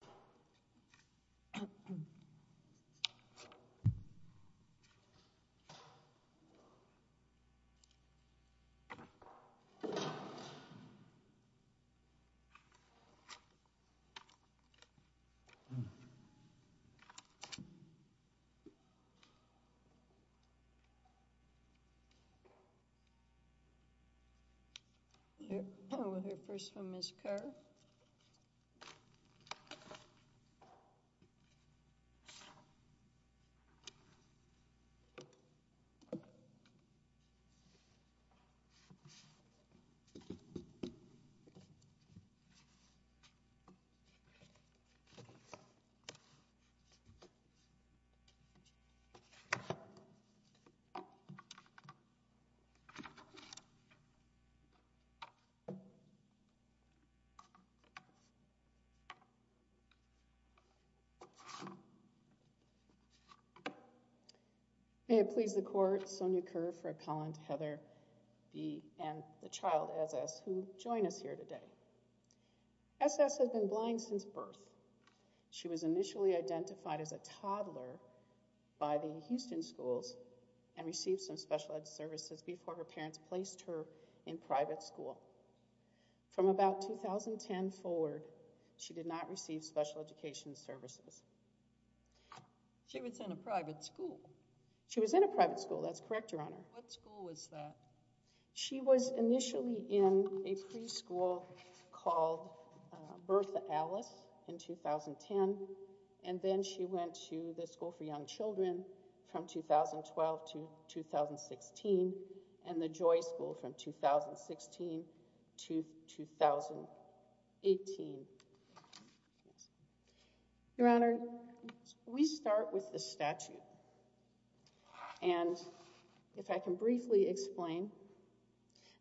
. Seconded by Miss Rachel Koenig. May it please the court, Sonia Kerr, Fred Collins, Heather B., and the child, S.S., who join us here today. S.S. has been blind since birth. She was initially identified as a toddler by the Houston schools and received some special ed services before her parents placed her in private school. From about 2010 forward, she did not receive special education services. She was in a private school. She was in a private school, that's correct, Your Honor. What school was that? She was initially in a preschool called Bertha Alice in 2010, and then she went to the School for Young Children from 2012 to 2016, and the Joy School from 2016 to 2018. Your Honor, we start with the statute, and if I can briefly explain,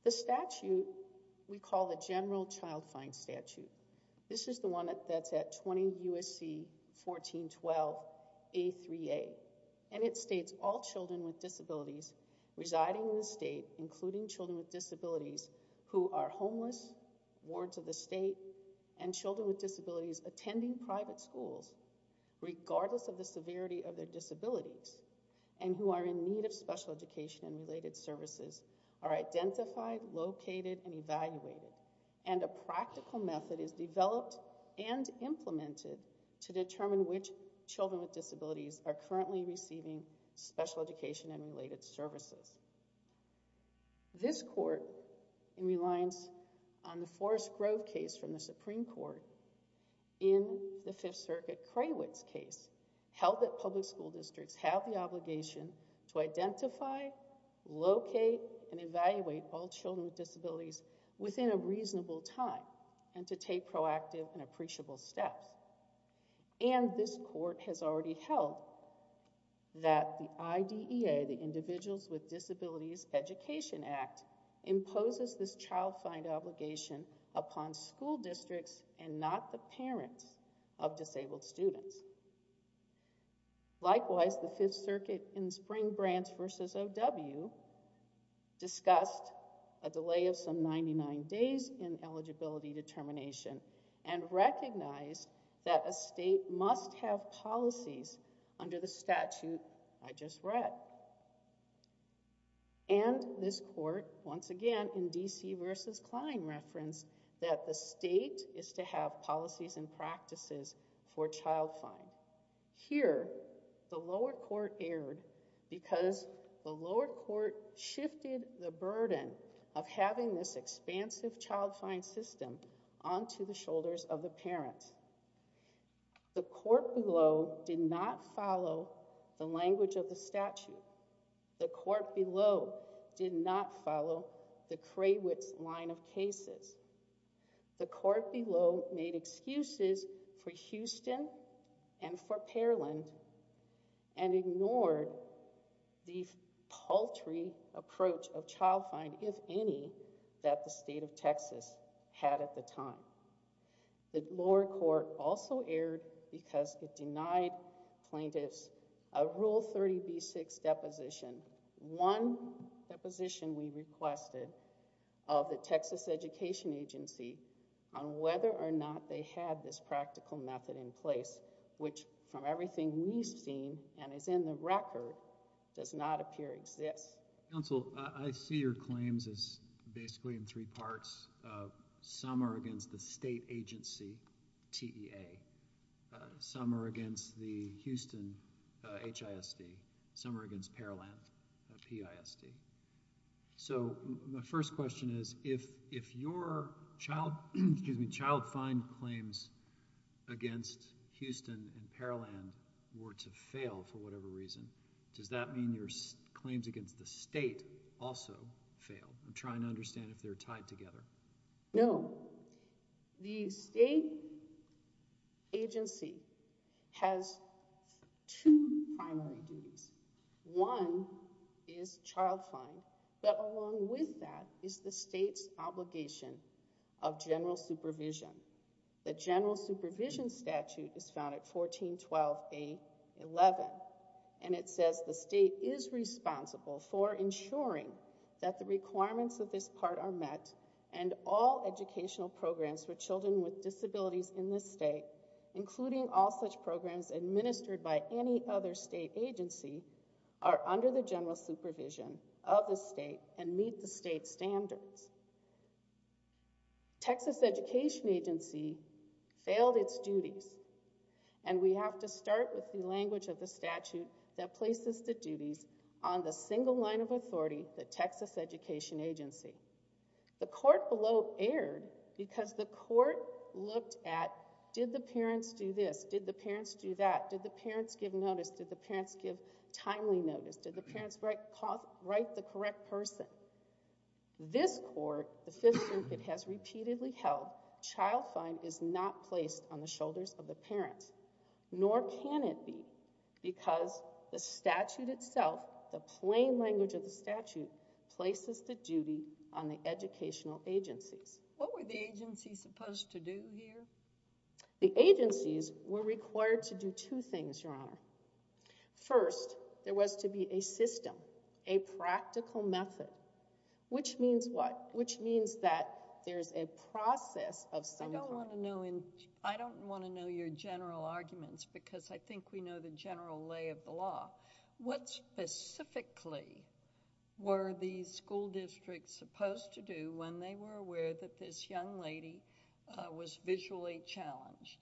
the statute we call the General Child Fine Statute. This is the one that's at 20 U.S.C. 1412 A3A, and it states all children with disabilities residing in the state, including children with disabilities who are homeless, warrants of the state, and children with disabilities attending private schools, regardless of the severity of their disabilities, and who are in need of special education and related services, are identified, located, and evaluated, and a practical method is developed and implemented to determine which children with disabilities are currently receiving special education and related services. This court, in reliance on the Forrest Grove case from the Supreme Court, in the Fifth Circuit Craywitz case, held that public school districts have the obligation to identify, locate, and evaluate all children with disabilities within a reasonable time, and to take proactive and appreciable steps, and this court has already held that the IDEA, the Individuals with Disabilities Education Act, imposes this child fine obligation upon school districts and not the parents of disabled students. Likewise, the Fifth Circuit in Spring Branch v. O.W. discussed a delay of some 99 days in eligibility determination, and recognized that a state must have policies under the statute I just read, and this court, once again, in D.C. v. Klein referenced that the Here, the lower court erred because the lower court shifted the burden of having this expansive child fine system onto the shoulders of the parents. The court below did not follow the language of the statute. The court below did not follow the Craywitz line of cases. The court below made excuses for Houston and for Pearland, and ignored the paltry approach of child fine, if any, that the state of Texas had at the time. The lower court also erred because it denied plaintiffs a Rule 30b-6 deposition, one deposition we requested of the Texas Education Agency on whether or not they had this practical method in place, which from everything we've seen, and is in the record, does not appear to exist. Counsel, I see your claims as basically in three parts. Some are against the state agency, TEA. Some are against the Houston HISD. Some are against Pearland PISD. So my first question is, if your child, excuse me, child fine claims against Houston and Pearland were to fail for whatever reason, does that mean your claims against the state also fail? I'm trying to understand if they're tied together. No. The state agency has two primary duties. One is child fine, but along with that is the state's obligation of general supervision. The general supervision statute is found at 1412A11, and it says the state is responsible for ensuring that the requirements of this part are met and all educational programs for children with disabilities in this state, including all such programs administered by any other state agency, are under the general supervision of the state and meet the state standards. Texas Education Agency failed its duties, and we have to start with the language of the statute that places the duties on the single line of authority, the Texas Education Agency. The court below erred because the court looked at, did the parents do this? Did the parents do that? Did the parents give notice? Did the parents give timely notice? Did the parents write the correct person? This court, the Fifth Circuit, has repeatedly held child fine is not placed on the shoulders of the parents, nor can it be because the statute itself, the plain language of the statute, places the duty on the educational agencies. What were the agencies supposed to do here? The agencies were required to do two things, Your Honor. First, there was to be a system, a practical method, which means what? Which means that there's a process of some kind. I don't want to know your general arguments because I think we know the general lay of the law. What specifically were the school districts supposed to do when they were aware that this young lady was visually challenged?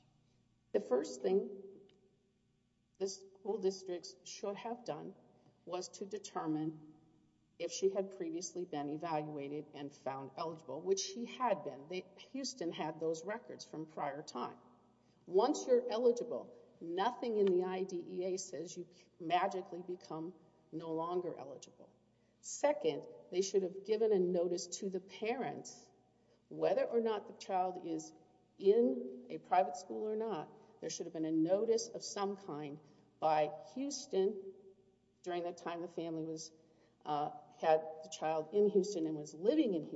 The first thing the school districts should have done was to determine if she had previously been evaluated and found eligible, which she had been. Houston had those records from prior time. Once you're eligible, nothing in the IDEA says you magically become no longer eligible. Second, they should have given a notice to the parents. Whether or not the child is in a private school or not, there should have been a notice of some kind by Houston during the time the family had the child in Houston and was living in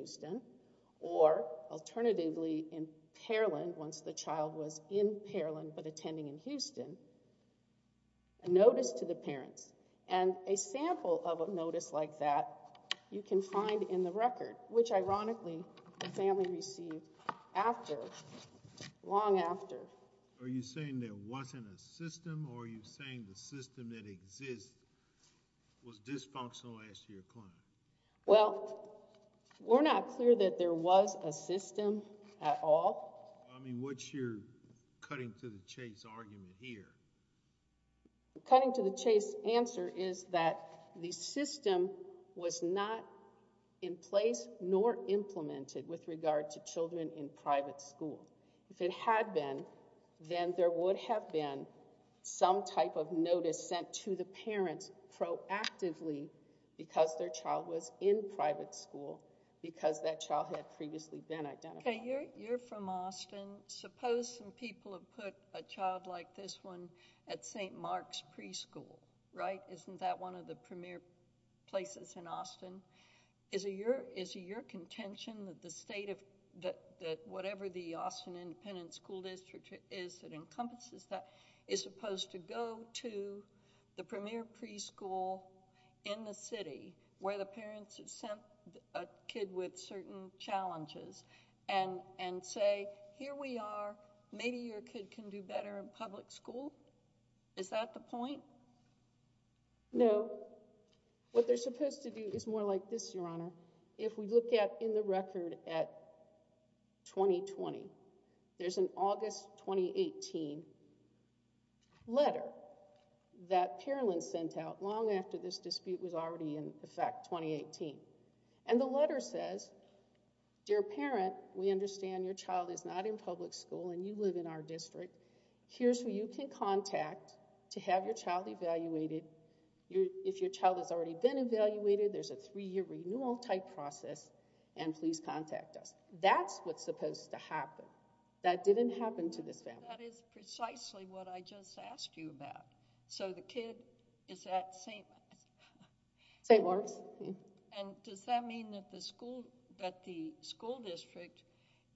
alternatively in Pearland once the child was in Pearland but attending in Houston. A notice to the parents and a sample of a notice like that you can find in the record, which ironically the family received after, long after. Are you saying there wasn't a system or are you saying the system that exists was dysfunctional as to your client? Well, we're not clear that there was a system at all. I mean, what's your cutting to the chase argument here? Cutting to the chase answer is that the system was not in place nor implemented with regard to children in private school. If it had been, then there would have been some type of notice sent to the parents proactively because their child was in private school, because that child had previously been identified. Okay, you're from Austin. Suppose some people have put a child like this one at St. Mark's Preschool, right? Isn't that one of the premier places in Austin? Is it your contention that the state of, that whatever the Austin Independent School District is that encompasses that, is supposed to go to the premier preschool in the city where the parents have sent a kid with certain challenges and say, here we are, maybe your kid can do better in public school? Is that the point? No. What they're supposed to do is more like this, Your Honor. If we look at in the record at 2020, there's an August 2018 letter that Pierlin sent out long after this dispute was already in effect, 2018. And the letter says, dear parent, we understand your child is not in public school and you live in our district. Here's who you can contact to have your child evaluated. If your child has already been evaluated, there's a three-year renewal type process and please contact us. That's what's supposed to happen. That didn't happen to this family. That is precisely what I just asked you about. So the kid is at St. Mark's? And does that mean that the school district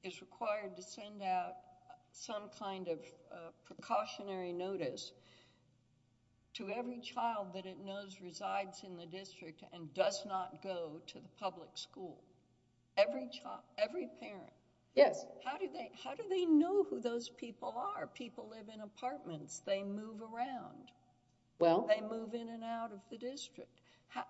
is required to send out some kind of precautionary notice to every child that it knows resides in the district and does not go to the public school? Every parent? Yes. How do they know who those people are? People live in apartments. They move around. They move in and out of the district. How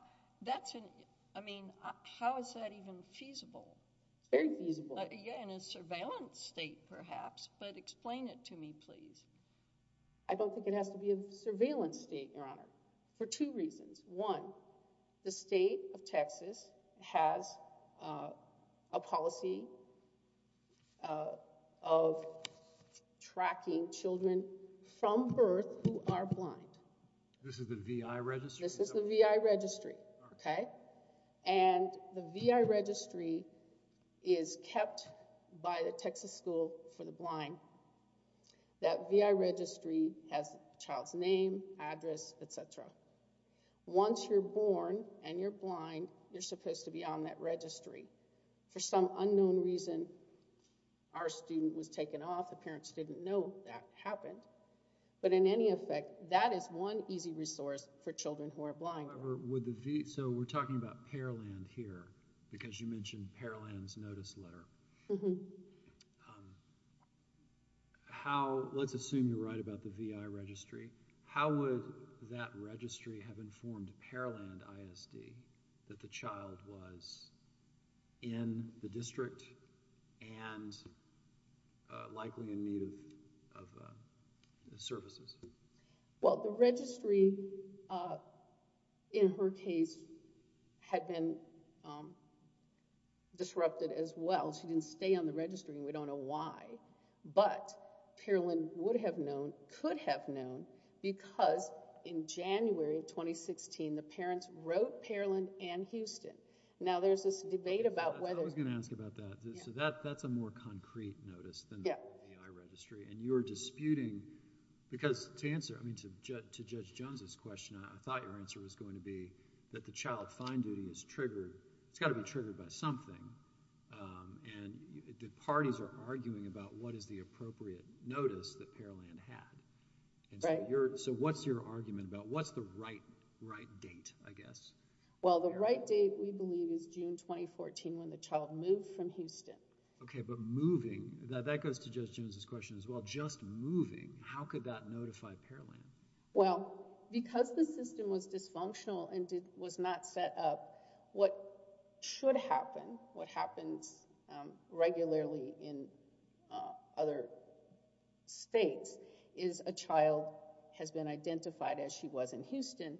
is that even feasible? It's very feasible. In a surveillance state, perhaps, but explain it to me, please. I don't think it has to be a surveillance state, Your Honor, for two reasons. One, the state of Texas has a policy of tracking children from birth who are blind. This is the VI registry? This is the VI registry, okay? And the VI registry is kept by the Texas School for the Blind. That VI registry has the child's name, address, et cetera. Once you're born and you're blind, you're supposed to be on that registry. For some unknown reason, our student was taken off. The parents didn't know that happened. But in any effect, that is one easy resource for children who are blind. So we're talking about Pearland here because you mentioned Pearland's notice letter. Let's assume you're right about the VI registry. How would that registry have informed Pearland ISD that the child was in the district and likely in need of services? Well, the registry in her case had been disrupted as well. She didn't stay on the registry, and we don't know why. But Pearland would have known, could have known, because in January of 2016, the parents wrote Pearland and Houston. Now, there's this debate about whether— I was going to ask about that. So that's a more concrete notice than the VI registry. And you're disputing because to answer, I mean, to Judge Jones's question, I thought your answer was going to be that the child's fine duty is triggered. It's got to be triggered by something. And the parties are arguing about what is the appropriate notice that Pearland had. So what's your argument about what's the right date, I guess? Well, the right date, we believe, is June 2014 when the child moved from Houston. Okay, but moving—that goes to Judge Jones's question as well. Just moving, how could that notify Pearland? Well, because the system was dysfunctional and was not set up, what should happen, what happens regularly in other states, is a child has been identified as she was in Houston.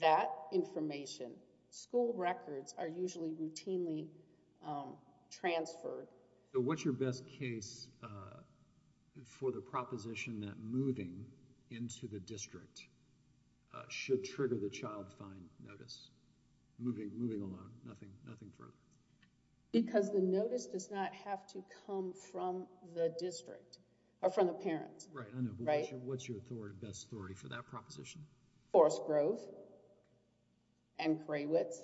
That information, school records are usually routinely transferred. So what's your best case for the proposition that moving into the district should trigger the child fine notice? Moving along, nothing further. Because the notice does not have to come from the district or from the parents. Right, I know. What's your best story for that proposition? Forest Grove and Kraywitz.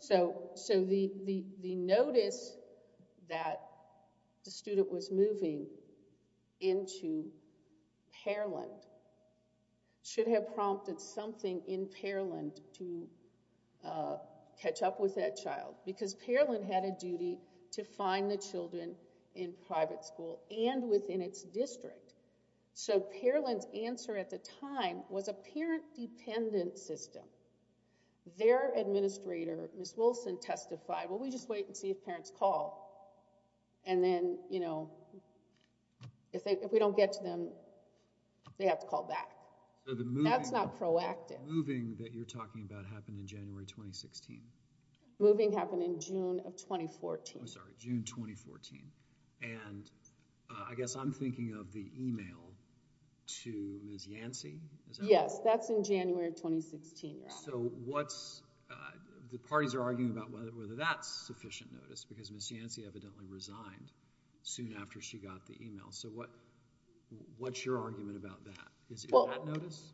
So the notice that the student was moving into Pearland should have prompted something in Pearland to catch up with that child because Pearland had a duty to find the children in private school and within its district. So Pearland's answer at the time was a parent-dependent system. Their administrator, Ms. Wilson, testified, well, we just wait and see if parents call. And then, you know, if we don't get to them, they have to call back. That's not proactive. So the moving that you're talking about happened in January 2016? Moving happened in June of 2014. I'm sorry, June 2014. And I guess I'm thinking of the email to Ms. Yancey. Yes, that's in January 2016. So the parties are arguing about whether that's sufficient notice because Ms. Yancey evidently resigned soon after she got the email. So what's your argument about that? Is it that notice?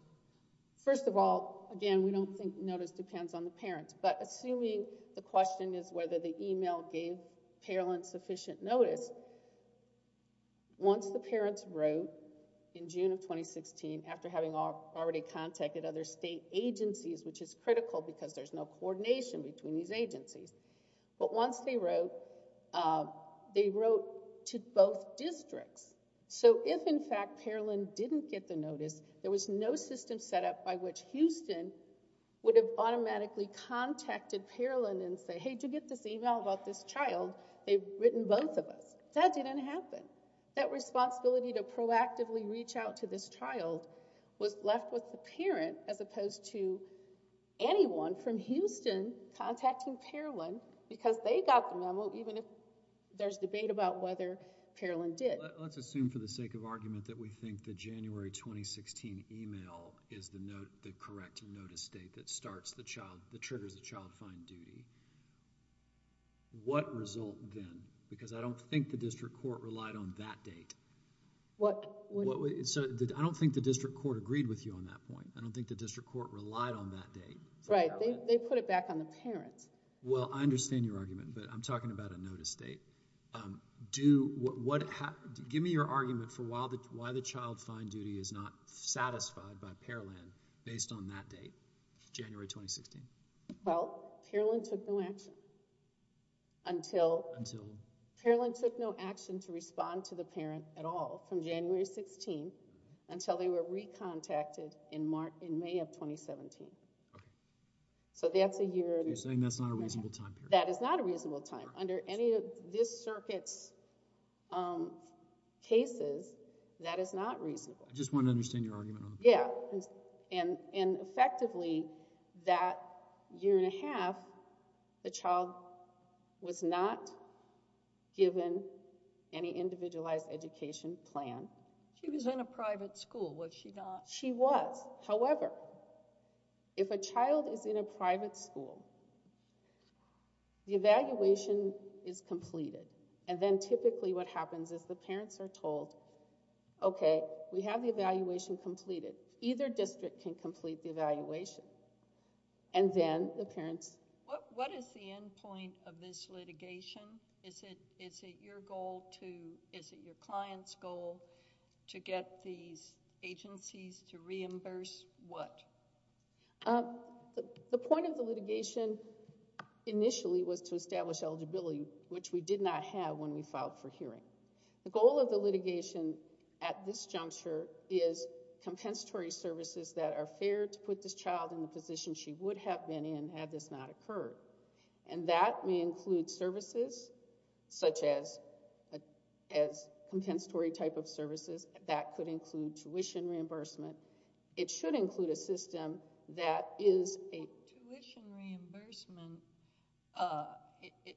First of all, again, we don't think notice depends on the parents. But assuming the question is whether the email gave Pearland sufficient notice, once the parents wrote in June of 2016, after having already contacted other state agencies, which is critical because there's no coordination between these agencies, but once they wrote, they wrote to both districts. So if, in fact, Pearland didn't get the notice, there was no system set up by which Houston would have automatically contacted Pearland and say, hey, did you get this email about this child? They've written both of us. That didn't happen. That responsibility to proactively reach out to this child was left with the parent as opposed to anyone from Houston contacting Pearland because they got the memo even if there's debate about whether Pearland did. Let's assume for the sake of argument that we think the January 2016 email is the correct notice date that starts the child, that triggers the child fine duty. What result then? Because I don't think the district court relied on that date. I don't think the district court agreed with you on that point. I don't think the district court relied on that date. Right. They put it back on the parents. Well, I understand your argument, but I'm talking about a notice date. Give me your argument for why the child fine duty is not satisfied by Pearland based on that date, January 2016. Well, Pearland took no action. Until? Pearland took no action to respond to the parent at all from January 16 until they were recontacted in May of 2017. Okay. So that's a year. You're saying that's not a reasonable time period. That is not a reasonable time. Under any of this circuit's cases, that is not reasonable. I just want to understand your argument on that. Yeah. And effectively, that year and a half, the child was not given any individualized education plan. She was in a private school, was she not? She was. However, if a child is in a private school, the evaluation is completed, and then typically what happens is the parents are told, okay, we have the evaluation completed. Either district can complete the evaluation. And then the parents— What is the end point of this litigation? Is it your goal to—is it your client's goal to get these agencies to reimburse what? The point of the litigation initially was to establish eligibility, which we did not have when we filed for hearing. The goal of the litigation at this juncture is compensatory services that are fair to put this child in the position she would have been in had this not occurred. And that may include services such as compensatory type of services. That could include tuition reimbursement. It should include a system that is a— Tuition reimbursement, it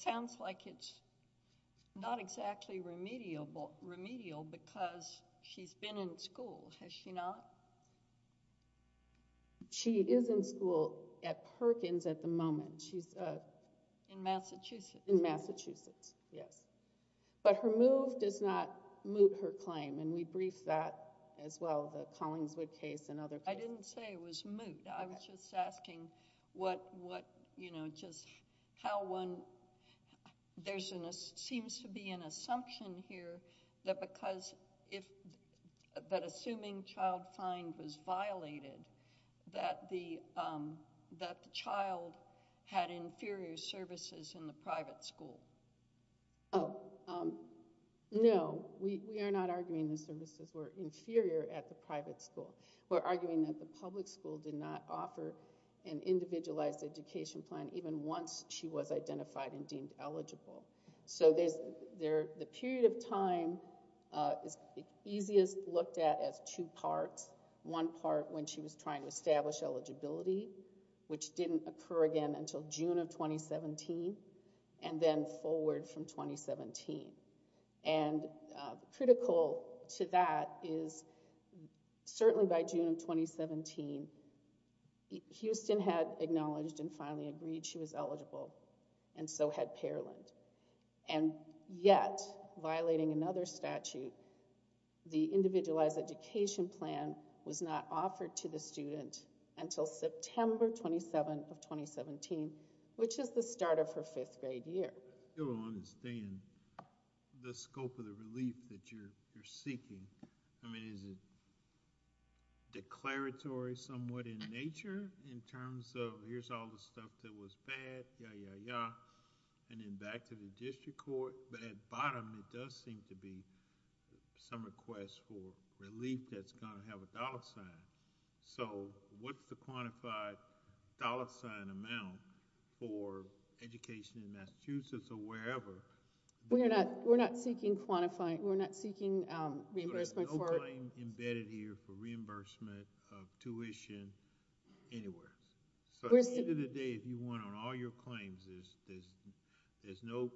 sounds like it's not exactly remedial because she's been in school, has she not? She is in school at Perkins at the moment. She's— In Massachusetts. In Massachusetts, yes. But her move does not moot her claim, and we briefed that as well, the Collingswood case and other cases. I didn't say it was moot. I was just asking what, you know, just how one— there seems to be an assumption here that because if— the child's mind was violated, that the child had inferior services in the private school. Oh, no. We are not arguing the services were inferior at the private school. We're arguing that the public school did not offer an individualized education plan even once she was identified and deemed eligible. So there's—the period of time is easiest looked at as two parts. One part when she was trying to establish eligibility, which didn't occur again until June of 2017, and then forward from 2017. And critical to that is certainly by June of 2017, Houston had acknowledged and finally agreed she was eligible, and so had Parland. And yet, violating another statute, the individualized education plan was not offered to the student until September 27 of 2017, which is the start of her fifth-grade year. I still don't understand the scope of the relief that you're seeking. I mean, is it declaratory somewhat in nature in terms of here's all the stuff that was bad, yeah, yeah, yeah, and then back to the district court? But at bottom, it does seem to be some request for relief that's going to have a dollar sign. So what's the quantified dollar sign amount for education in Massachusetts or wherever? We're not seeking reimbursement for it. There's no claim embedded here for reimbursement of tuition anywhere. So at the end of the day, if you want on all your claims, there's no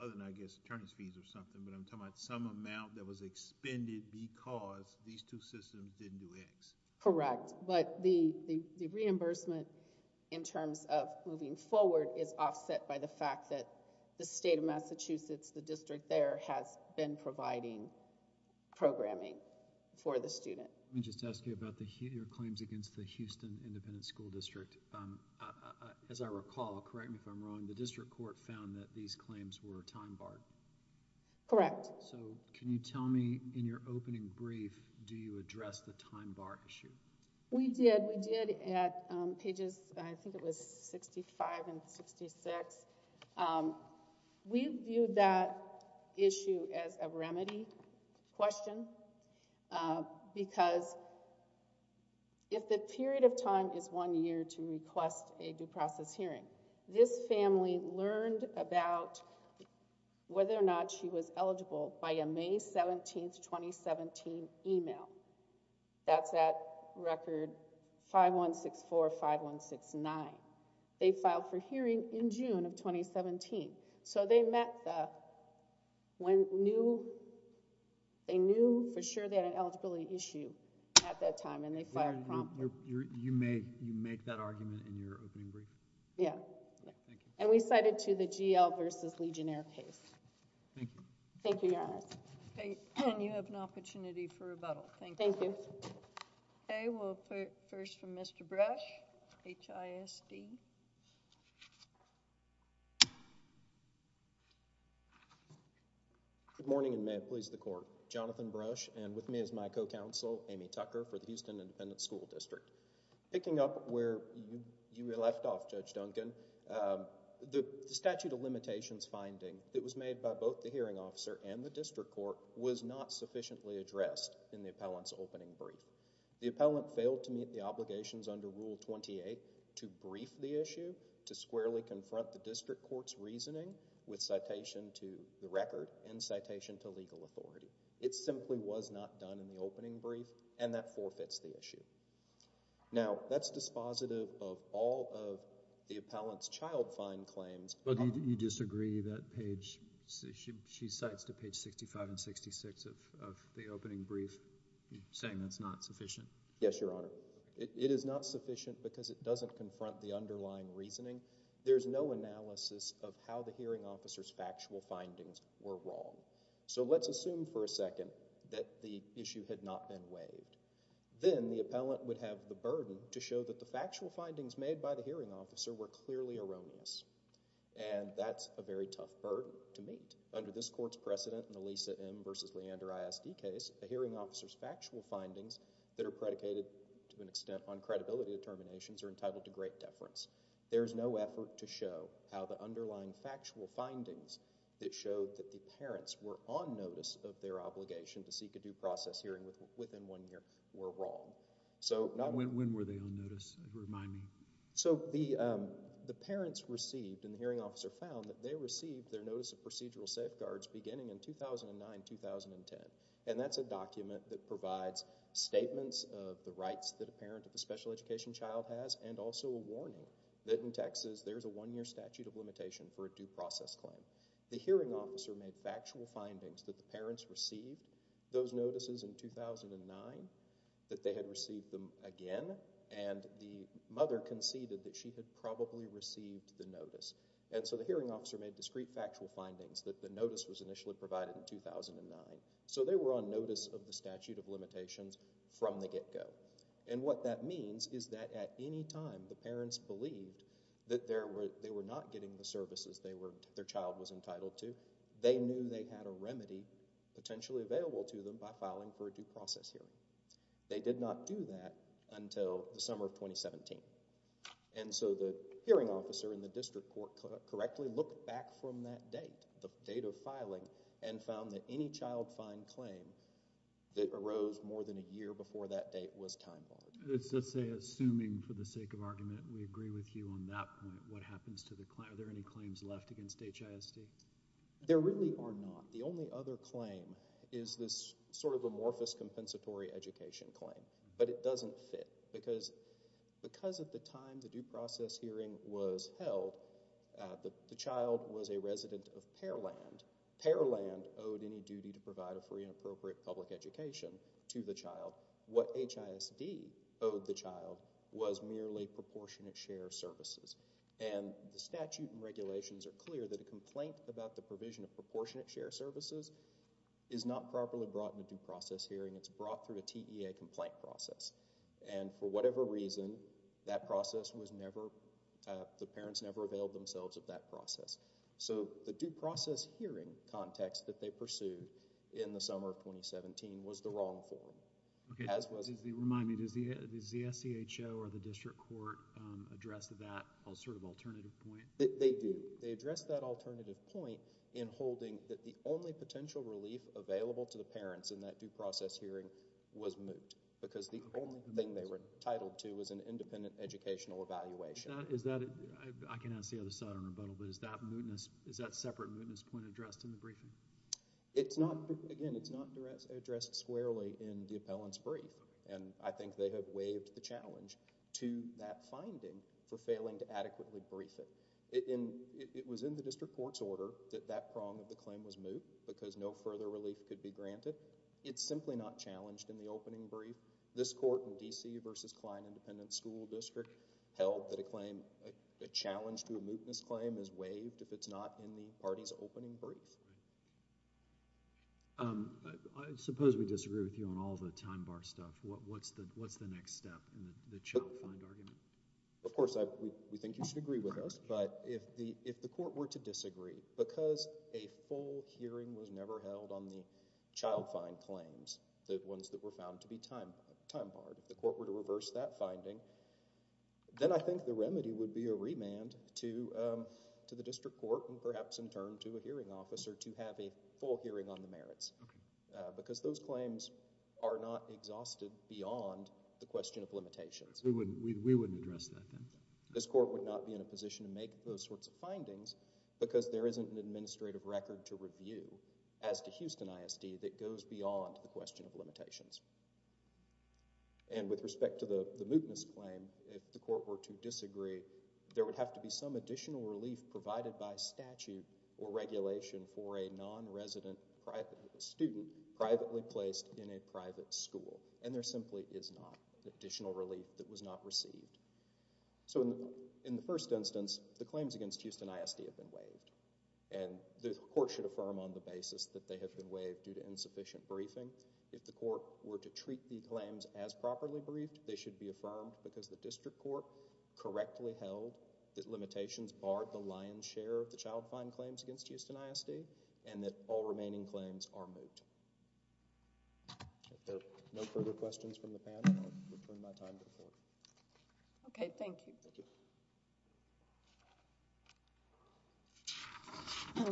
other than, I guess, attorney's fees or something, but I'm talking about some amount that was expended because these two systems didn't do X. Correct, but the reimbursement in terms of moving forward is offset by the fact that the state of Massachusetts, the district there has been providing programming for the student. Let me just ask you about your claims against the Houston Independent School District. As I recall, correct me if I'm wrong, the district court found that these claims were time barred. Correct. So can you tell me in your opening brief, do you address the time bar issue? We did. We did at pages, I think it was 65 and 66. We viewed that issue as a remedy question because if the period of time is one year to request a due process hearing, this family learned about whether or not she was eligible by a May 17, 2017 email. That's at record 51645169. They filed for hearing in June of 2017. So they knew for sure they had an eligibility issue at that time, and they filed promptly. You make that argument in your opening brief? Yeah. Thank you. And we cited to the GL versus Legionnaire case. Thank you. Thank you, Your Honor. And you have an opportunity for rebuttal. Thank you. Thank you. Okay, well, first from Mr. Brush, HISD. Good morning, and may it please the court. Jonathan Brush, and with me is my co-counsel, Amy Tucker, for the Houston Independent School District. Picking up where you left off, Judge Duncan, the statute of limitations finding that was made by both the hearing officer and the district court was not sufficiently addressed in the appellant's opening brief. The appellant failed to meet the obligations under Rule 28 to brief the issue, to squarely confront the district court's reasoning with citation to the record and citation to legal authority. It simply was not done in the opening brief, and that forfeits the issue. Now, that's dispositive of all of the appellant's child fine claims. Well, do you disagree that she cites to page 65 and 66 of the opening brief, saying that's not sufficient? Yes, Your Honor. It is not sufficient because it doesn't confront the underlying reasoning. There's no analysis of how the hearing officer's factual findings were wrong. So let's assume for a second that the issue had not been waived. Then the appellant would have the burden to show that the factual findings made by the hearing officer were clearly erroneous, and that's a very tough burden to meet. Under this court's precedent in the Lisa M v. Leander ISD case, the hearing officer's factual findings that are predicated to an extent on credibility determinations are entitled to great deference. There is no effort to show how the underlying factual findings that showed that the parents were on notice of their obligation to seek a due process hearing within one year were wrong. When were they on notice? Remind me. So the parents received, and the hearing officer found, that they received their notice of procedural safeguards beginning in 2009-2010, and that's a document that provides statements of the rights that a parent of a special education child has and also a warning that in Texas there's a one-year statute of limitation for a due process claim. The hearing officer made factual findings that the parents received those notices in 2009, that they had received them again, and the mother conceded that she had probably received the notice. And so the hearing officer made discrete factual findings that the notice was initially provided in 2009. So they were on notice of the statute of limitations from the get-go. And what that means is that at any time the parents believed that they were not getting the services their child was entitled to, they knew they had a remedy potentially available to them by filing for a due process hearing. They did not do that until the summer of 2017. And so the hearing officer in the district court correctly looked back from that date, the date of filing, and found that any child fine claim that arose more than a year before that date was time-bombed. Let's say, assuming for the sake of argument, we agree with you on that point, what happens to the claim? Are there any claims left against HISD? There really are not. The only other claim is this sort of amorphous compensatory education claim, but it doesn't fit because at the time the due process hearing was held, the child was a resident of Pearland. Pearland owed any duty to provide a free and appropriate public education to the child. What HISD owed the child was merely proportionate share services. And the statute and regulations are clear that a complaint about the provision of proportionate share services is not properly brought in a due process hearing. It's brought through a TEA complaint process. And for whatever reason, that process was never, the parents never availed themselves of that process. So the due process hearing context that they pursued in the summer of 2017 was the wrong form. Remind me, does the SEHO or the district court address that sort of alternative point? They do. They address that alternative point in holding that the only potential relief available to the parents in that due process hearing was moot, because the only thing they were entitled to was an independent educational evaluation. Is that, I can ask the other side in rebuttal, but is that mootness, is that separate mootness point addressed in the briefing? It's not, again, it's not addressed squarely in the appellant's brief. And I think they have waived the challenge to that finding for failing to adequately brief it. It was in the district court's order that that prong of the claim was moot, because no further relief could be granted. It's simply not challenged in the opening brief. This court in D.C. versus Kline Independent School District held that a claim, a challenge to a mootness claim is waived if it's not in the party's opening brief. I suppose we disagree with you on all the time bar stuff. What's the next step in the child find argument? Of course, we think you should agree with us. But if the court were to disagree, because a full hearing was never held on the child find claims, the ones that were found to be time barred, if the court were to reverse that finding, then I think the remedy would be a remand to the district court and perhaps in turn to a hearing officer to have a full hearing on the merits. Because those claims are not exhausted beyond the question of limitations. We wouldn't address that then. This court would not be in a position to make those sorts of findings because there isn't an administrative record to review as to Houston ISD that goes beyond the question of limitations. And with respect to the mootness claim, if the court were to disagree, there would have to be some additional relief provided by statute or regulation for a non-resident student privately placed in a private school. And there simply is not an additional relief that was not received. So in the first instance, the claims against Houston ISD have been waived. And the court should affirm on the basis that they have been waived due to insufficient briefing. If the court were to treat the claims as properly briefed, they should be affirmed because the district court correctly held that limitations barred the lion's share of the child fine claims against Houston ISD and that all remaining claims are moot. If there are no further questions from the panel, I'll return my time to the court. Okay. Thank you.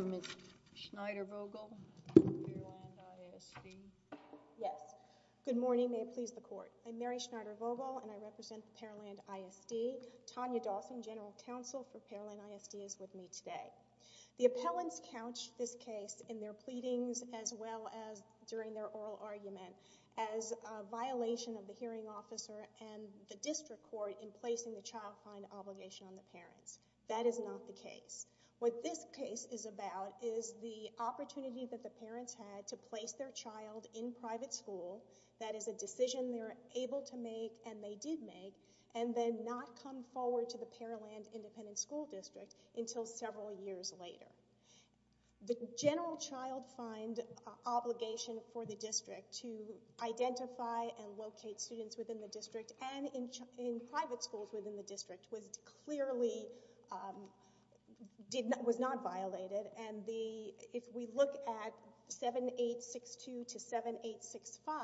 Ms. Schneider-Vogel, Paraland ISD. Yes. Good morning. May it please the court. I'm Mary Schneider-Vogel, and I represent Paraland ISD. Tanya Dawson, general counsel for Paraland ISD, is with me today. The appellants couched this case in their pleadings as well as during their oral argument as a violation of the hearing officer and the district court in placing the child fine obligation on the parents. That is not the case. What this case is about is the opportunity that the parents had to place their child in private school. That is a decision they were able to make, and they did make, and then not come forward to the Paraland Independent School District until several years later. The general child fine obligation for the district to identify and locate students within the district and in private schools within the district was clearly...was not violated. And if we look at 7862 to 7865,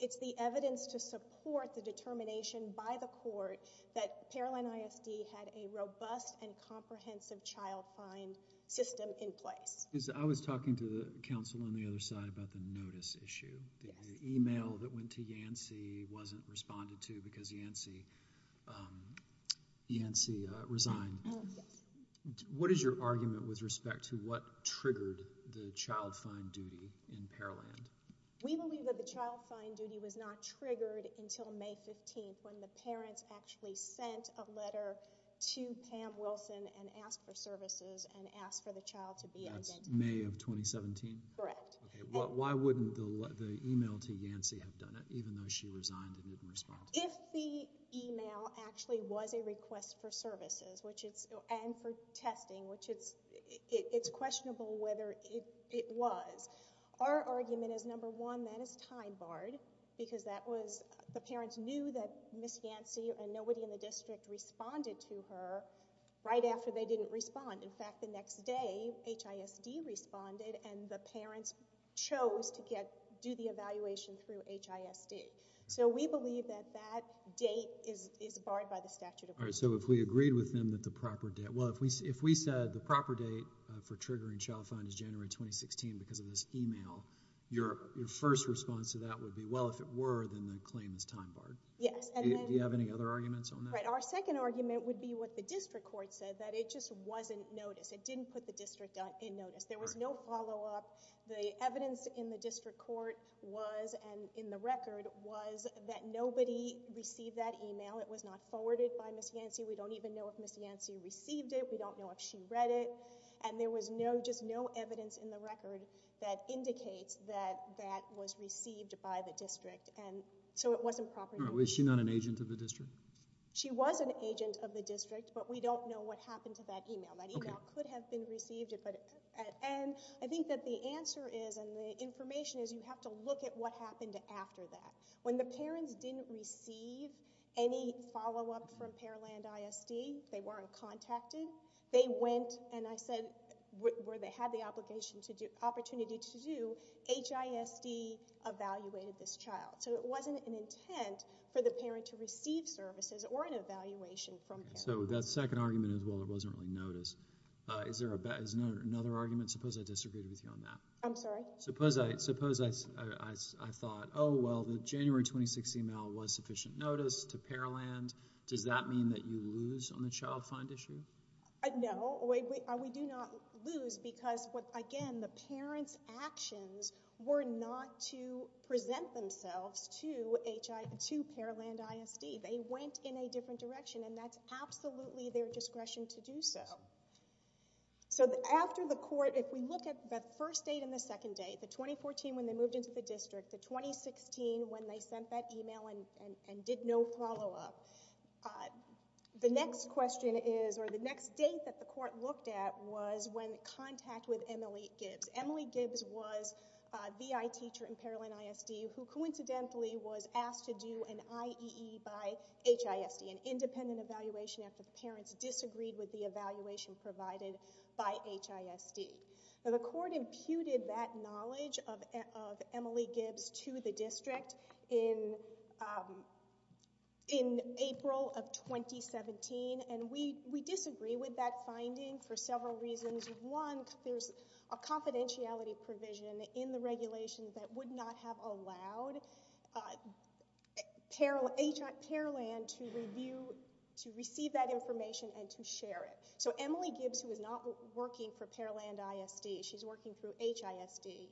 it's the evidence to support the determination by the court that Paraland ISD had a robust and comprehensive child fine system in place. I was talking to the counsel on the other side about the notice issue. The e-mail that went to Yancey wasn't responded to because Yancey resigned. What is your argument with respect to what triggered the child fine duty in Paraland? We believe that the child fine duty was not triggered until May 15th when the parents actually sent a letter to Pam Wilson and asked for services and asked for the child to be identified. That's May of 2017? Correct. Why wouldn't the e-mail to Yancey have done it, even though she resigned and didn't respond? If the e-mail actually was a request for services and for testing, which it's questionable whether it was, our argument is, number one, that is time barred because the parents knew that Ms. Yancey and nobody in the district responded to her right after they didn't respond. In fact, the next day HISD responded and the parents chose to do the evaluation through HISD. So we believe that that date is barred by the statute of limits. So if we agreed with them that the proper date— well, if we said the proper date for triggering child fine is January 2016 because of this e-mail, your first response to that would be, well, if it were, then the claim is time barred. Yes. Do you have any other arguments on that? Right. Our second argument would be what the district court said, that it just wasn't noticed. It didn't put the district in notice. There was no follow-up. The evidence in the district court was, and in the record, was that nobody received that e-mail. It was not forwarded by Ms. Yancey. We don't even know if Ms. Yancey received it. We don't know if she read it. And there was just no evidence in the record that indicates that that was received by the district. So it wasn't properly— Was she not an agent of the district? She was an agent of the district, but we don't know what happened to that e-mail. That e-mail could have been received. And I think that the answer is, and the information is, you have to look at what happened after that. When the parents didn't receive any follow-up from Paraland ISD, they weren't contacted, they went, and I said, where they had the opportunity to do, HISD evaluated this child. So it wasn't an intent for the parent to receive services or an evaluation from Paraland. So that second argument is, well, it wasn't really noticed. Is there another argument? Suppose I disagreed with you on that. I'm sorry? Suppose I thought, oh, well, the January 26th e-mail was sufficient notice to Paraland. Does that mean that you lose on the child find issue? No, we do not lose because, again, the parents' actions were not to present themselves to Paraland ISD. They went in a different direction, and that's absolutely their discretion to do so. So after the court, if we look at the first date and the second date, the 2014 when they moved into the district, the 2016 when they sent that e-mail and did no follow-up, the next question is, or the next date that the court looked at, was when in contact with Emily Gibbs. Emily Gibbs was a VI teacher in Paraland ISD who coincidentally was asked to do an IEE by HISD, an independent evaluation after the parents disagreed with the evaluation provided by HISD. The court imputed that knowledge of Emily Gibbs to the district in April of 2017, and we disagree with that finding for several reasons. One, there's a confidentiality provision in the regulation that would not have allowed Paraland to review, to receive that information and to share it. So Emily Gibbs, who is not working for Paraland ISD, she's working through HISD,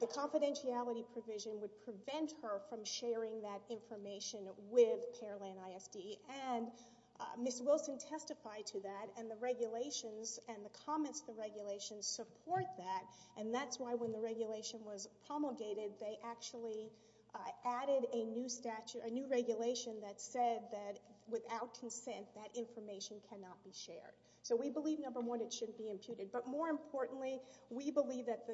the confidentiality provision would prevent her from sharing that information with Paraland ISD, and Ms. Wilson testified to that, and the regulations and the comments of the regulations support that, and that's why when the regulation was promulgated, they actually added a new statute, a new regulation that said that without consent, that information cannot be shared. So we believe, number one, it shouldn't be imputed, but more importantly, we believe that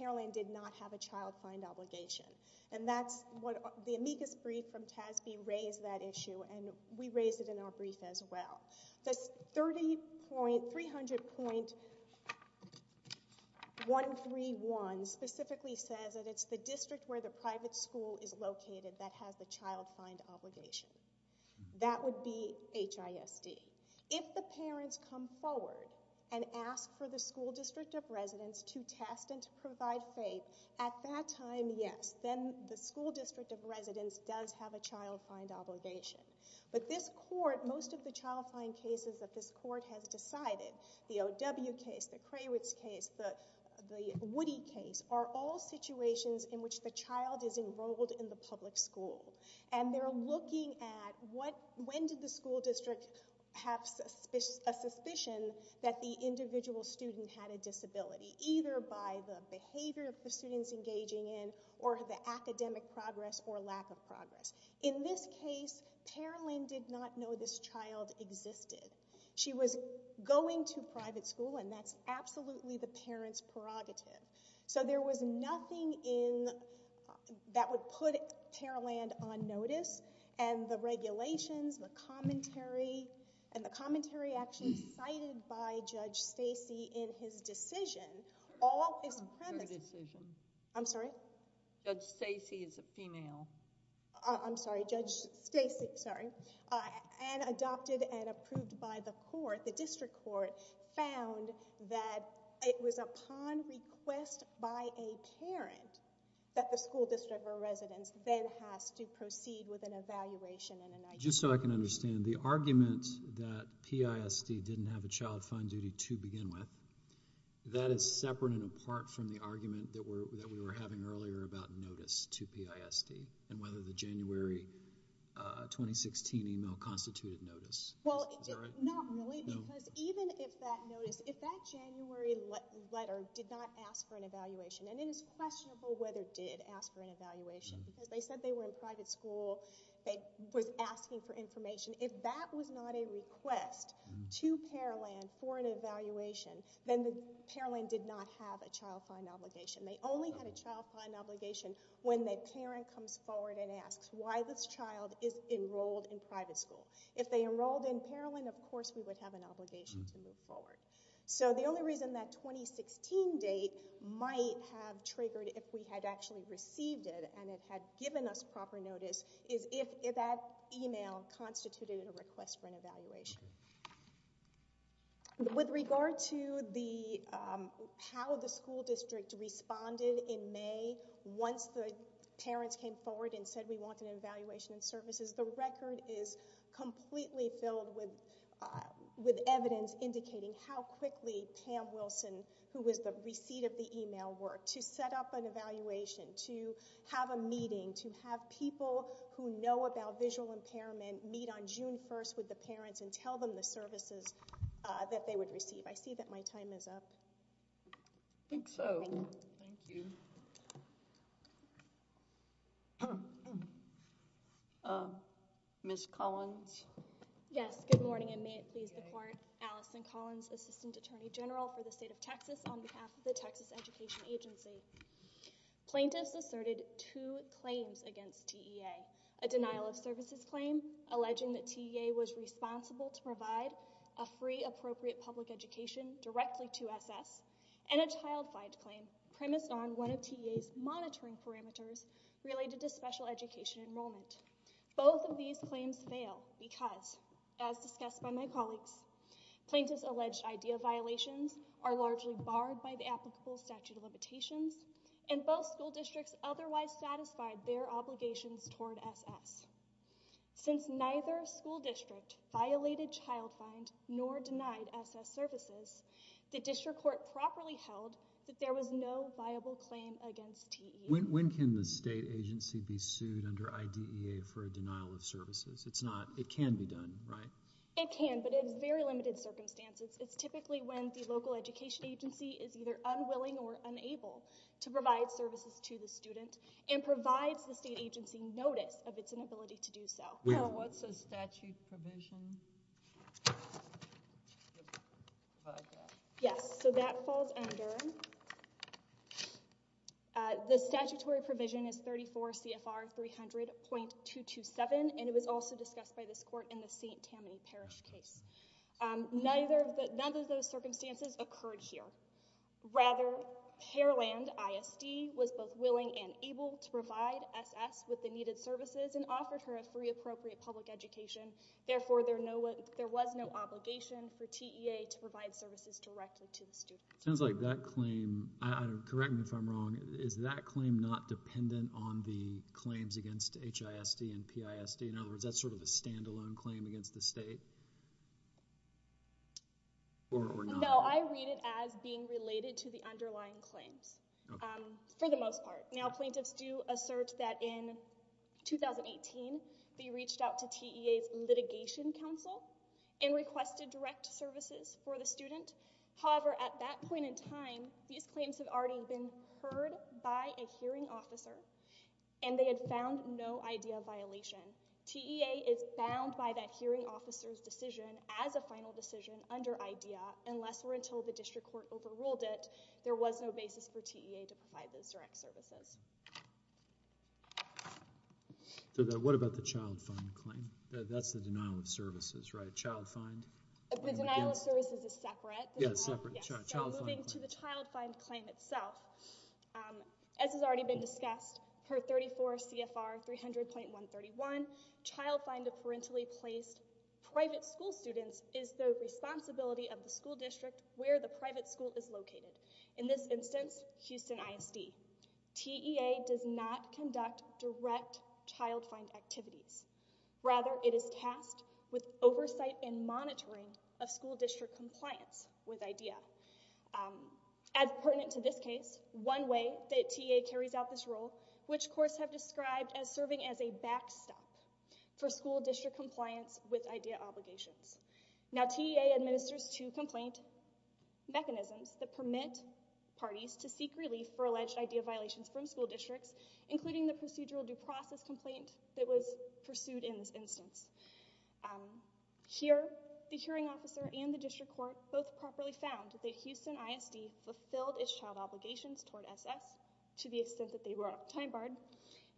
Paraland did not have a child find obligation, and that's what the amicus brief from TASB raised that issue, and we raised it in our brief as well. This 300.131 specifically says that it's the district where the private school is located that has the child find obligation. That would be HISD. If the parents come forward and ask for the school district of residence to test and to provide faith, at that time, yes, then the school district of residence does have a child find obligation. But this court, most of the child find cases that this court has decided, the OW case, the Krawitz case, the Woody case, are all situations in which the child is enrolled in the public school, and they're looking at when did the school district have a suspicion that the individual student had a disability, either by the behavior of the students engaging in or the academic progress or lack of progress. In this case, Paraland did not know this child existed. She was going to private school, and that's absolutely the parent's prerogative. So there was nothing that would put Paraland on notice, and the regulations, the commentary, and the commentary actually cited by Judge Stacey in his decision, all is premises. I'm sorry? Judge Stacey is a female. I'm sorry, Judge Stacey, sorry. And adopted and approved by the court, the district court, found that it was upon request by a parent that the school district or residence then has to proceed with an evaluation and an ID. Just so I can understand, the argument that PISD didn't have a child find duty to begin with, that is separate and apart from the argument that we were having earlier about notice to PISD and whether the January 2016 email constituted notice. Is that right? Not really, because even if that notice, if that January letter did not ask for an evaluation, and it is questionable whether it did ask for an evaluation, because they said they were in private school, they were asking for information. If that was not a request to Paraland for an evaluation, then Paraland did not have a child find obligation. They only had a child find obligation when the parent comes forward and asks, why this child is enrolled in private school? If they enrolled in Paraland, of course we would have an obligation to move forward. So the only reason that 2016 date might have triggered if we had actually received it and it had given us proper notice is if that email constituted a request for an evaluation. With regard to how the school district responded in May once the parents came forward and said we wanted an evaluation in services, the record is completely filled with evidence indicating how quickly Pam Wilson, who was the receipt of the email, worked to set up an evaluation, to have a meeting, to have people who know about visual impairment meet on June 1st with the parents and tell them the services that they would receive. I see that my time is up. I think so. Thank you. Ms. Collins? Yes, good morning and may it please the court. Allison Collins, Assistant Attorney General for the state of Texas on behalf of the Texas Education Agency. Plaintiffs asserted two claims against TEA, a denial of services claim alleging that TEA was responsible to provide a free appropriate public education directly to SS, and a child fight claim premised on one of TEA's monitoring parameters related to special education enrollment. Both of these claims fail because, as discussed by my colleagues, plaintiffs' alleged idea violations are largely barred by the applicable statute of limitations and both school districts otherwise satisfied their obligations toward SS. Since neither school district violated child find nor denied SS services, the district court properly held that there was no viable claim against TEA. When can the state agency be sued under IDEA for a denial of services? It can be done, right? It can, but in very limited circumstances. It's typically when the local education agency is either unwilling or unable to provide services to the student and provides the state agency notice of its inability to do so. What's the statute provision? Yes, so that falls under... The statutory provision is 34 CFR 300.227, and it was also discussed by this court in the St. Tammany Parish case. None of those circumstances occurred here. Rather, Hareland ISD was both willing and able to provide SS with the needed services and offered her a free appropriate public education. Therefore, there was no obligation for TEA to provide services directly to the student. It sounds like that claim, correct me if I'm wrong, is that claim not dependent on the claims against HISD and PISD? In other words, that's sort of a standalone claim against the state? Or not? No, I read it as being related to the underlying claims, for the most part. Now, plaintiffs do assert that in 2018, they reached out to TEA's litigation counsel and requested direct services for the student. However, at that point in time, these claims had already been heard by a hearing officer, and they had found no idea of violation. TEA is bound by that hearing officer's decision as a final decision under IDEA. Unless or until the district court overruled it, there was no basis for TEA to provide those direct services. What about the child find claim? That's the denial of services, right? Child find? The denial of services is separate. Yes, separate. Moving to the child find claim itself. As has already been discussed, per 34 CFR 300.131, child find of parentally placed private school students is the responsibility of the school district where the private school is located. In this instance, Houston ISD. TEA does not conduct direct child find activities. Rather, it is tasked with oversight and monitoring of school district compliance with IDEA. As pertinent to this case, there is one way that TEA carries out this role, which courts have described as serving as a backstop for school district compliance with IDEA obligations. Now, TEA administers two complaint mechanisms that permit parties to seek relief for alleged IDEA violations from school districts, including the procedural due process complaint that was pursued in this instance. Here, the hearing officer and the district court both properly found that Houston ISD fulfilled its child obligations toward SS, to the extent that they were out of time barred.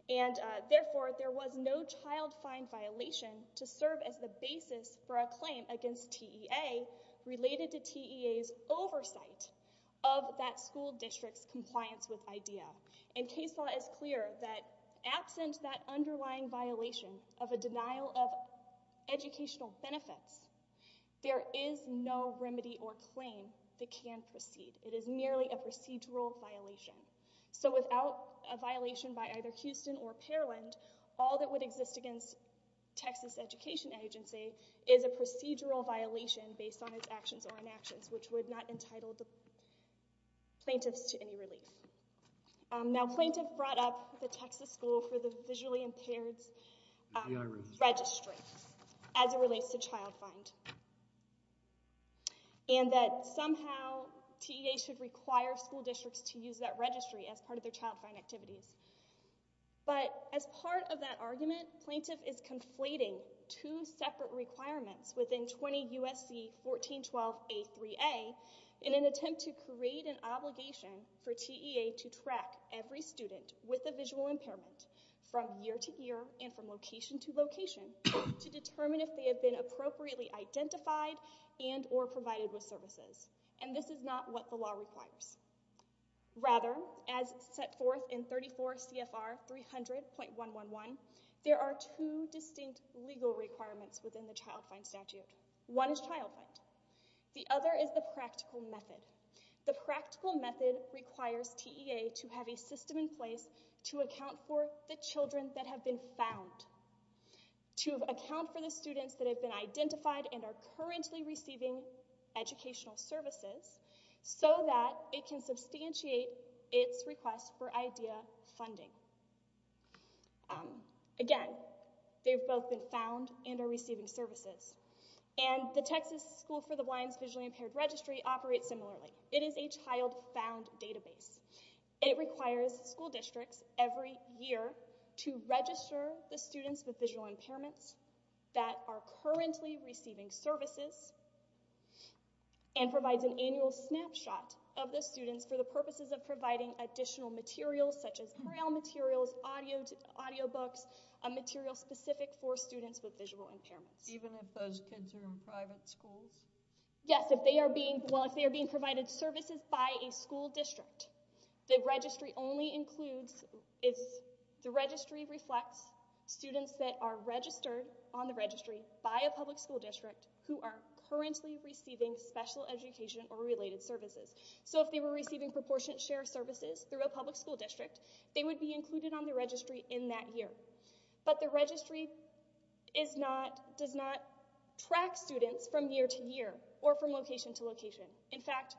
And therefore, there was no child find violation to serve as the basis for a claim against TEA related to TEA's oversight of that school district's compliance with IDEA. And case law is clear that, absent that underlying violation of a denial of educational benefits, there is no remedy or claim that can proceed. It is merely a procedural violation. So without a violation by either Houston or Parland, all that would exist against Texas Education Agency is a procedural violation based on its actions or inactions, which would not entitle the plaintiffs to any relief. Now, plaintiff brought up the Texas School for the Visually Impaired's registry as it relates to child find, and that somehow TEA should require school districts to use that registry as part of their child find activities. But as part of that argument, plaintiff is conflating two separate requirements within 20 U.S.C. 1412a3a in an attempt to create an obligation for TEA to track every student with a visual impairment from year to year and from location to location to determine if they have been appropriately identified and or provided with services. And this is not what the law requires. Rather, as set forth in 34 CFR 300.111, there are two distinct legal requirements within the child find statute. One is child find. The other is the practical method. The practical method requires TEA to have a system in place to account for the children that have been found, to account for the students that have been identified and are currently receiving educational services so that it can substantiate its request for IDEA funding. Again, they've both been found and are receiving services. And the Texas School for the Blind's visually impaired registry operates similarly. It is a child found database. It requires school districts every year to register the students with visual impairments that are currently receiving services and provides an annual snapshot of the students for the purposes of providing additional materials such as braille materials, audio books, material specific for students with visual impairments. Even if those kids are in private schools? Yes, if they are being provided services by a school district. The registry reflects students that are registered on the registry by a public school district who are currently receiving special education or related services. So if they were receiving proportionate share services through a public school district, they would be included on the registry in that year. But the registry does not track students from year to year or from location to location. In fact,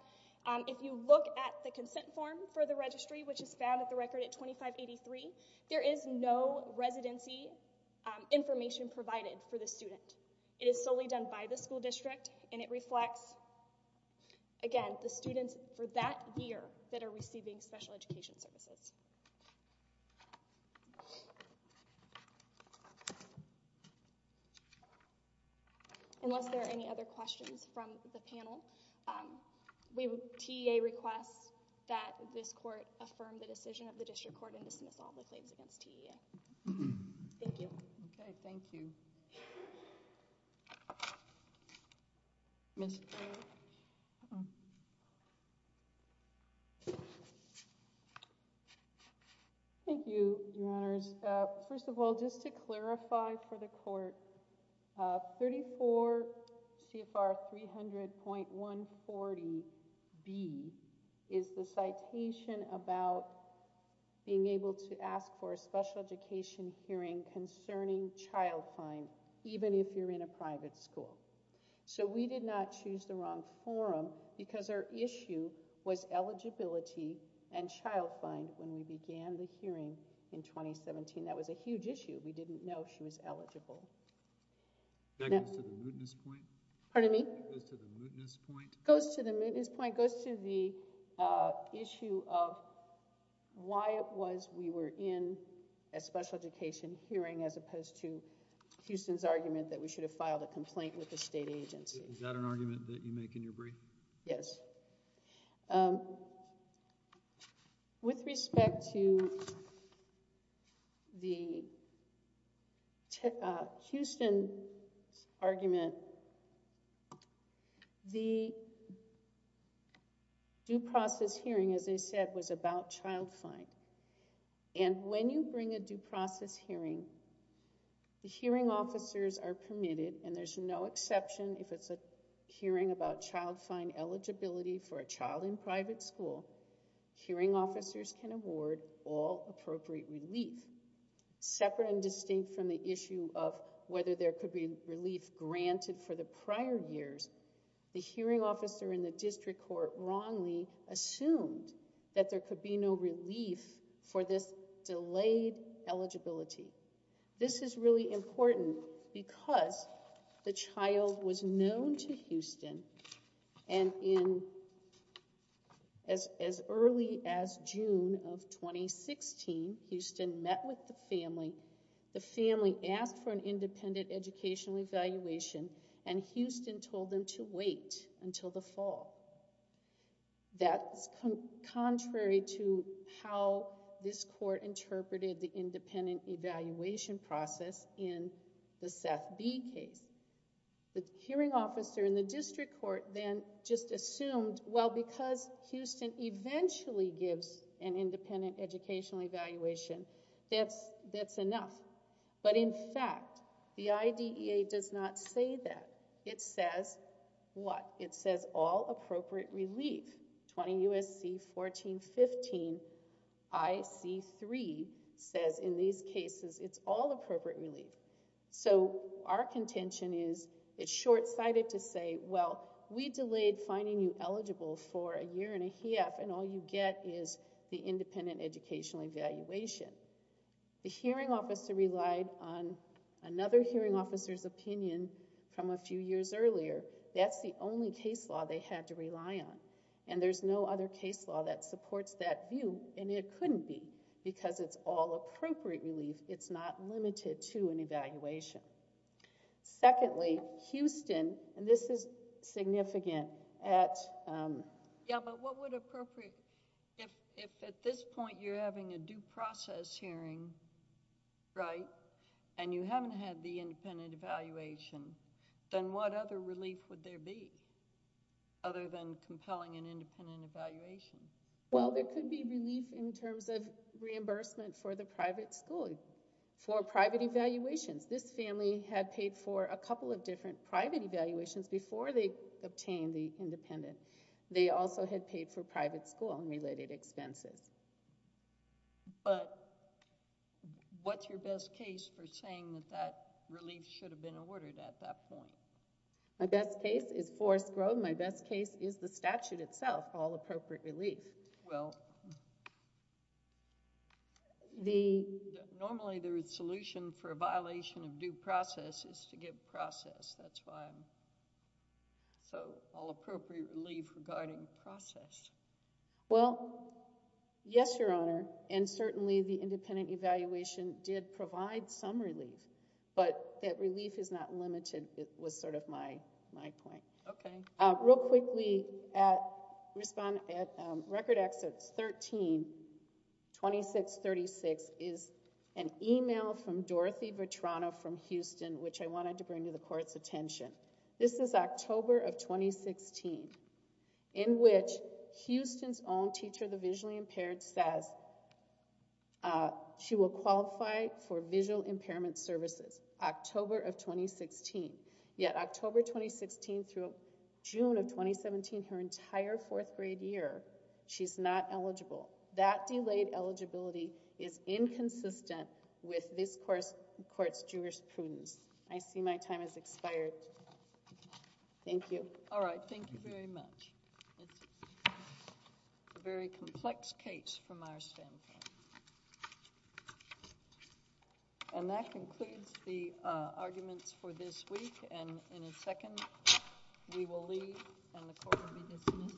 if you look at the consent form for the registry, which is found at the record at 2583, there is no residency information provided for the student. It is solely done by the school district and it reflects, again, the students for that year that are receiving special education services. Unless there are any other questions from the panel, TEA requests that this court affirm the decision of the district court and dismiss all the claims against TEA. Thank you. Okay, thank you. Ms. Trey? Uh-oh. Thank you, Your Honors. First of all, just to clarify for the court, 34 CFR 300.140B is the citation about being able to ask for a special education hearing concerning child crime, even if you're in a private school. So we did not choose the wrong forum because our issue was eligibility and child fine when we began the hearing in 2017. That was a huge issue. We didn't know she was eligible. That goes to the mootness point? Pardon me? That goes to the mootness point? It goes to the mootness point. It goes to the issue of why it was we were in a special education hearing as opposed to Houston's argument that we should have filed a complaint with the state agency. Is that an argument that you make in your brief? Yes. With respect to the Houston argument, the due process hearing, as I said, was about child fine. And when you bring a due process hearing, the hearing officers are permitted, and there's no exception if it's a hearing about child fine eligibility for a child in private school, hearing officers can award all appropriate relief. Separate and distinct from the issue of whether there could be relief granted for the prior years, the hearing officer in the district court wrongly assumed that there could be no relief for this delayed eligibility. This is really important because the child was known to Houston, and as early as June of 2016, Houston met with the family. The family asked for an independent educational evaluation, and Houston told them to wait until the fall. That's contrary to how this court interpreted the independent evaluation process in the Seth B. case. The hearing officer in the district court then just assumed, well, because Houston eventually gives an independent educational evaluation, that's enough. But in fact, the IDEA does not say that. It says what? It says all appropriate relief. 20 U.S.C. 1415 I.C. 3 says in these cases, it's all appropriate relief. So our contention is it's short-sighted to say, well, we delayed finding you eligible for a year and a half, and all you get is the independent educational evaluation. The hearing officer relied on another hearing officer's opinion from a few years earlier. That's the only case law they had to rely on, and there's no other case law that supports that view, and it couldn't be because it's all appropriate relief. It's not limited to an evaluation. Secondly, Houston, and this is significant. Yeah, but what would appropriate, if at this point you're having a due process hearing, right, and you haven't had the independent evaluation, then what other relief would there be other than compelling an independent evaluation? Well, there could be relief in terms of reimbursement for the private school, for private evaluations. This family had paid for a couple of different private evaluations before they obtained the independent. They also had paid for private school and related expenses. But what's your best case for saying that that relief should have been awarded at that point? My best case is Forest Grove. My best case is the statute itself, all appropriate relief. Well, normally the solution for a violation of due process is to give process. That's why I'm... so all appropriate relief regarding process. Well, yes, Your Honor, and certainly the independent evaluation did provide some relief, but that relief is not limited was sort of my point. Okay. Real quickly, at Record Access 13-2636 is an email from Dorothy Vetrano from Houston which I wanted to bring to the Court's attention. This is October of 2016, in which Houston's own teacher, the visually impaired, says she will qualify for visual impairment services, October of 2016. Yet October 2016 through June of 2017, her entire fourth grade year, she's not eligible. That delayed eligibility is inconsistent with this Court's jurisprudence. I see my time has expired. Thank you. All right, thank you very much. It's a very complex case from our standpoint. And that concludes the arguments for this week, and in a second we will leave and the Court will be dismissed.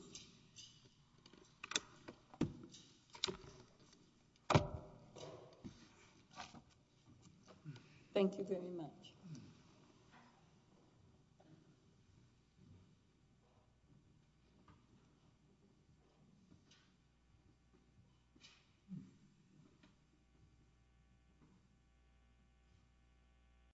Thank you very much. Thank you.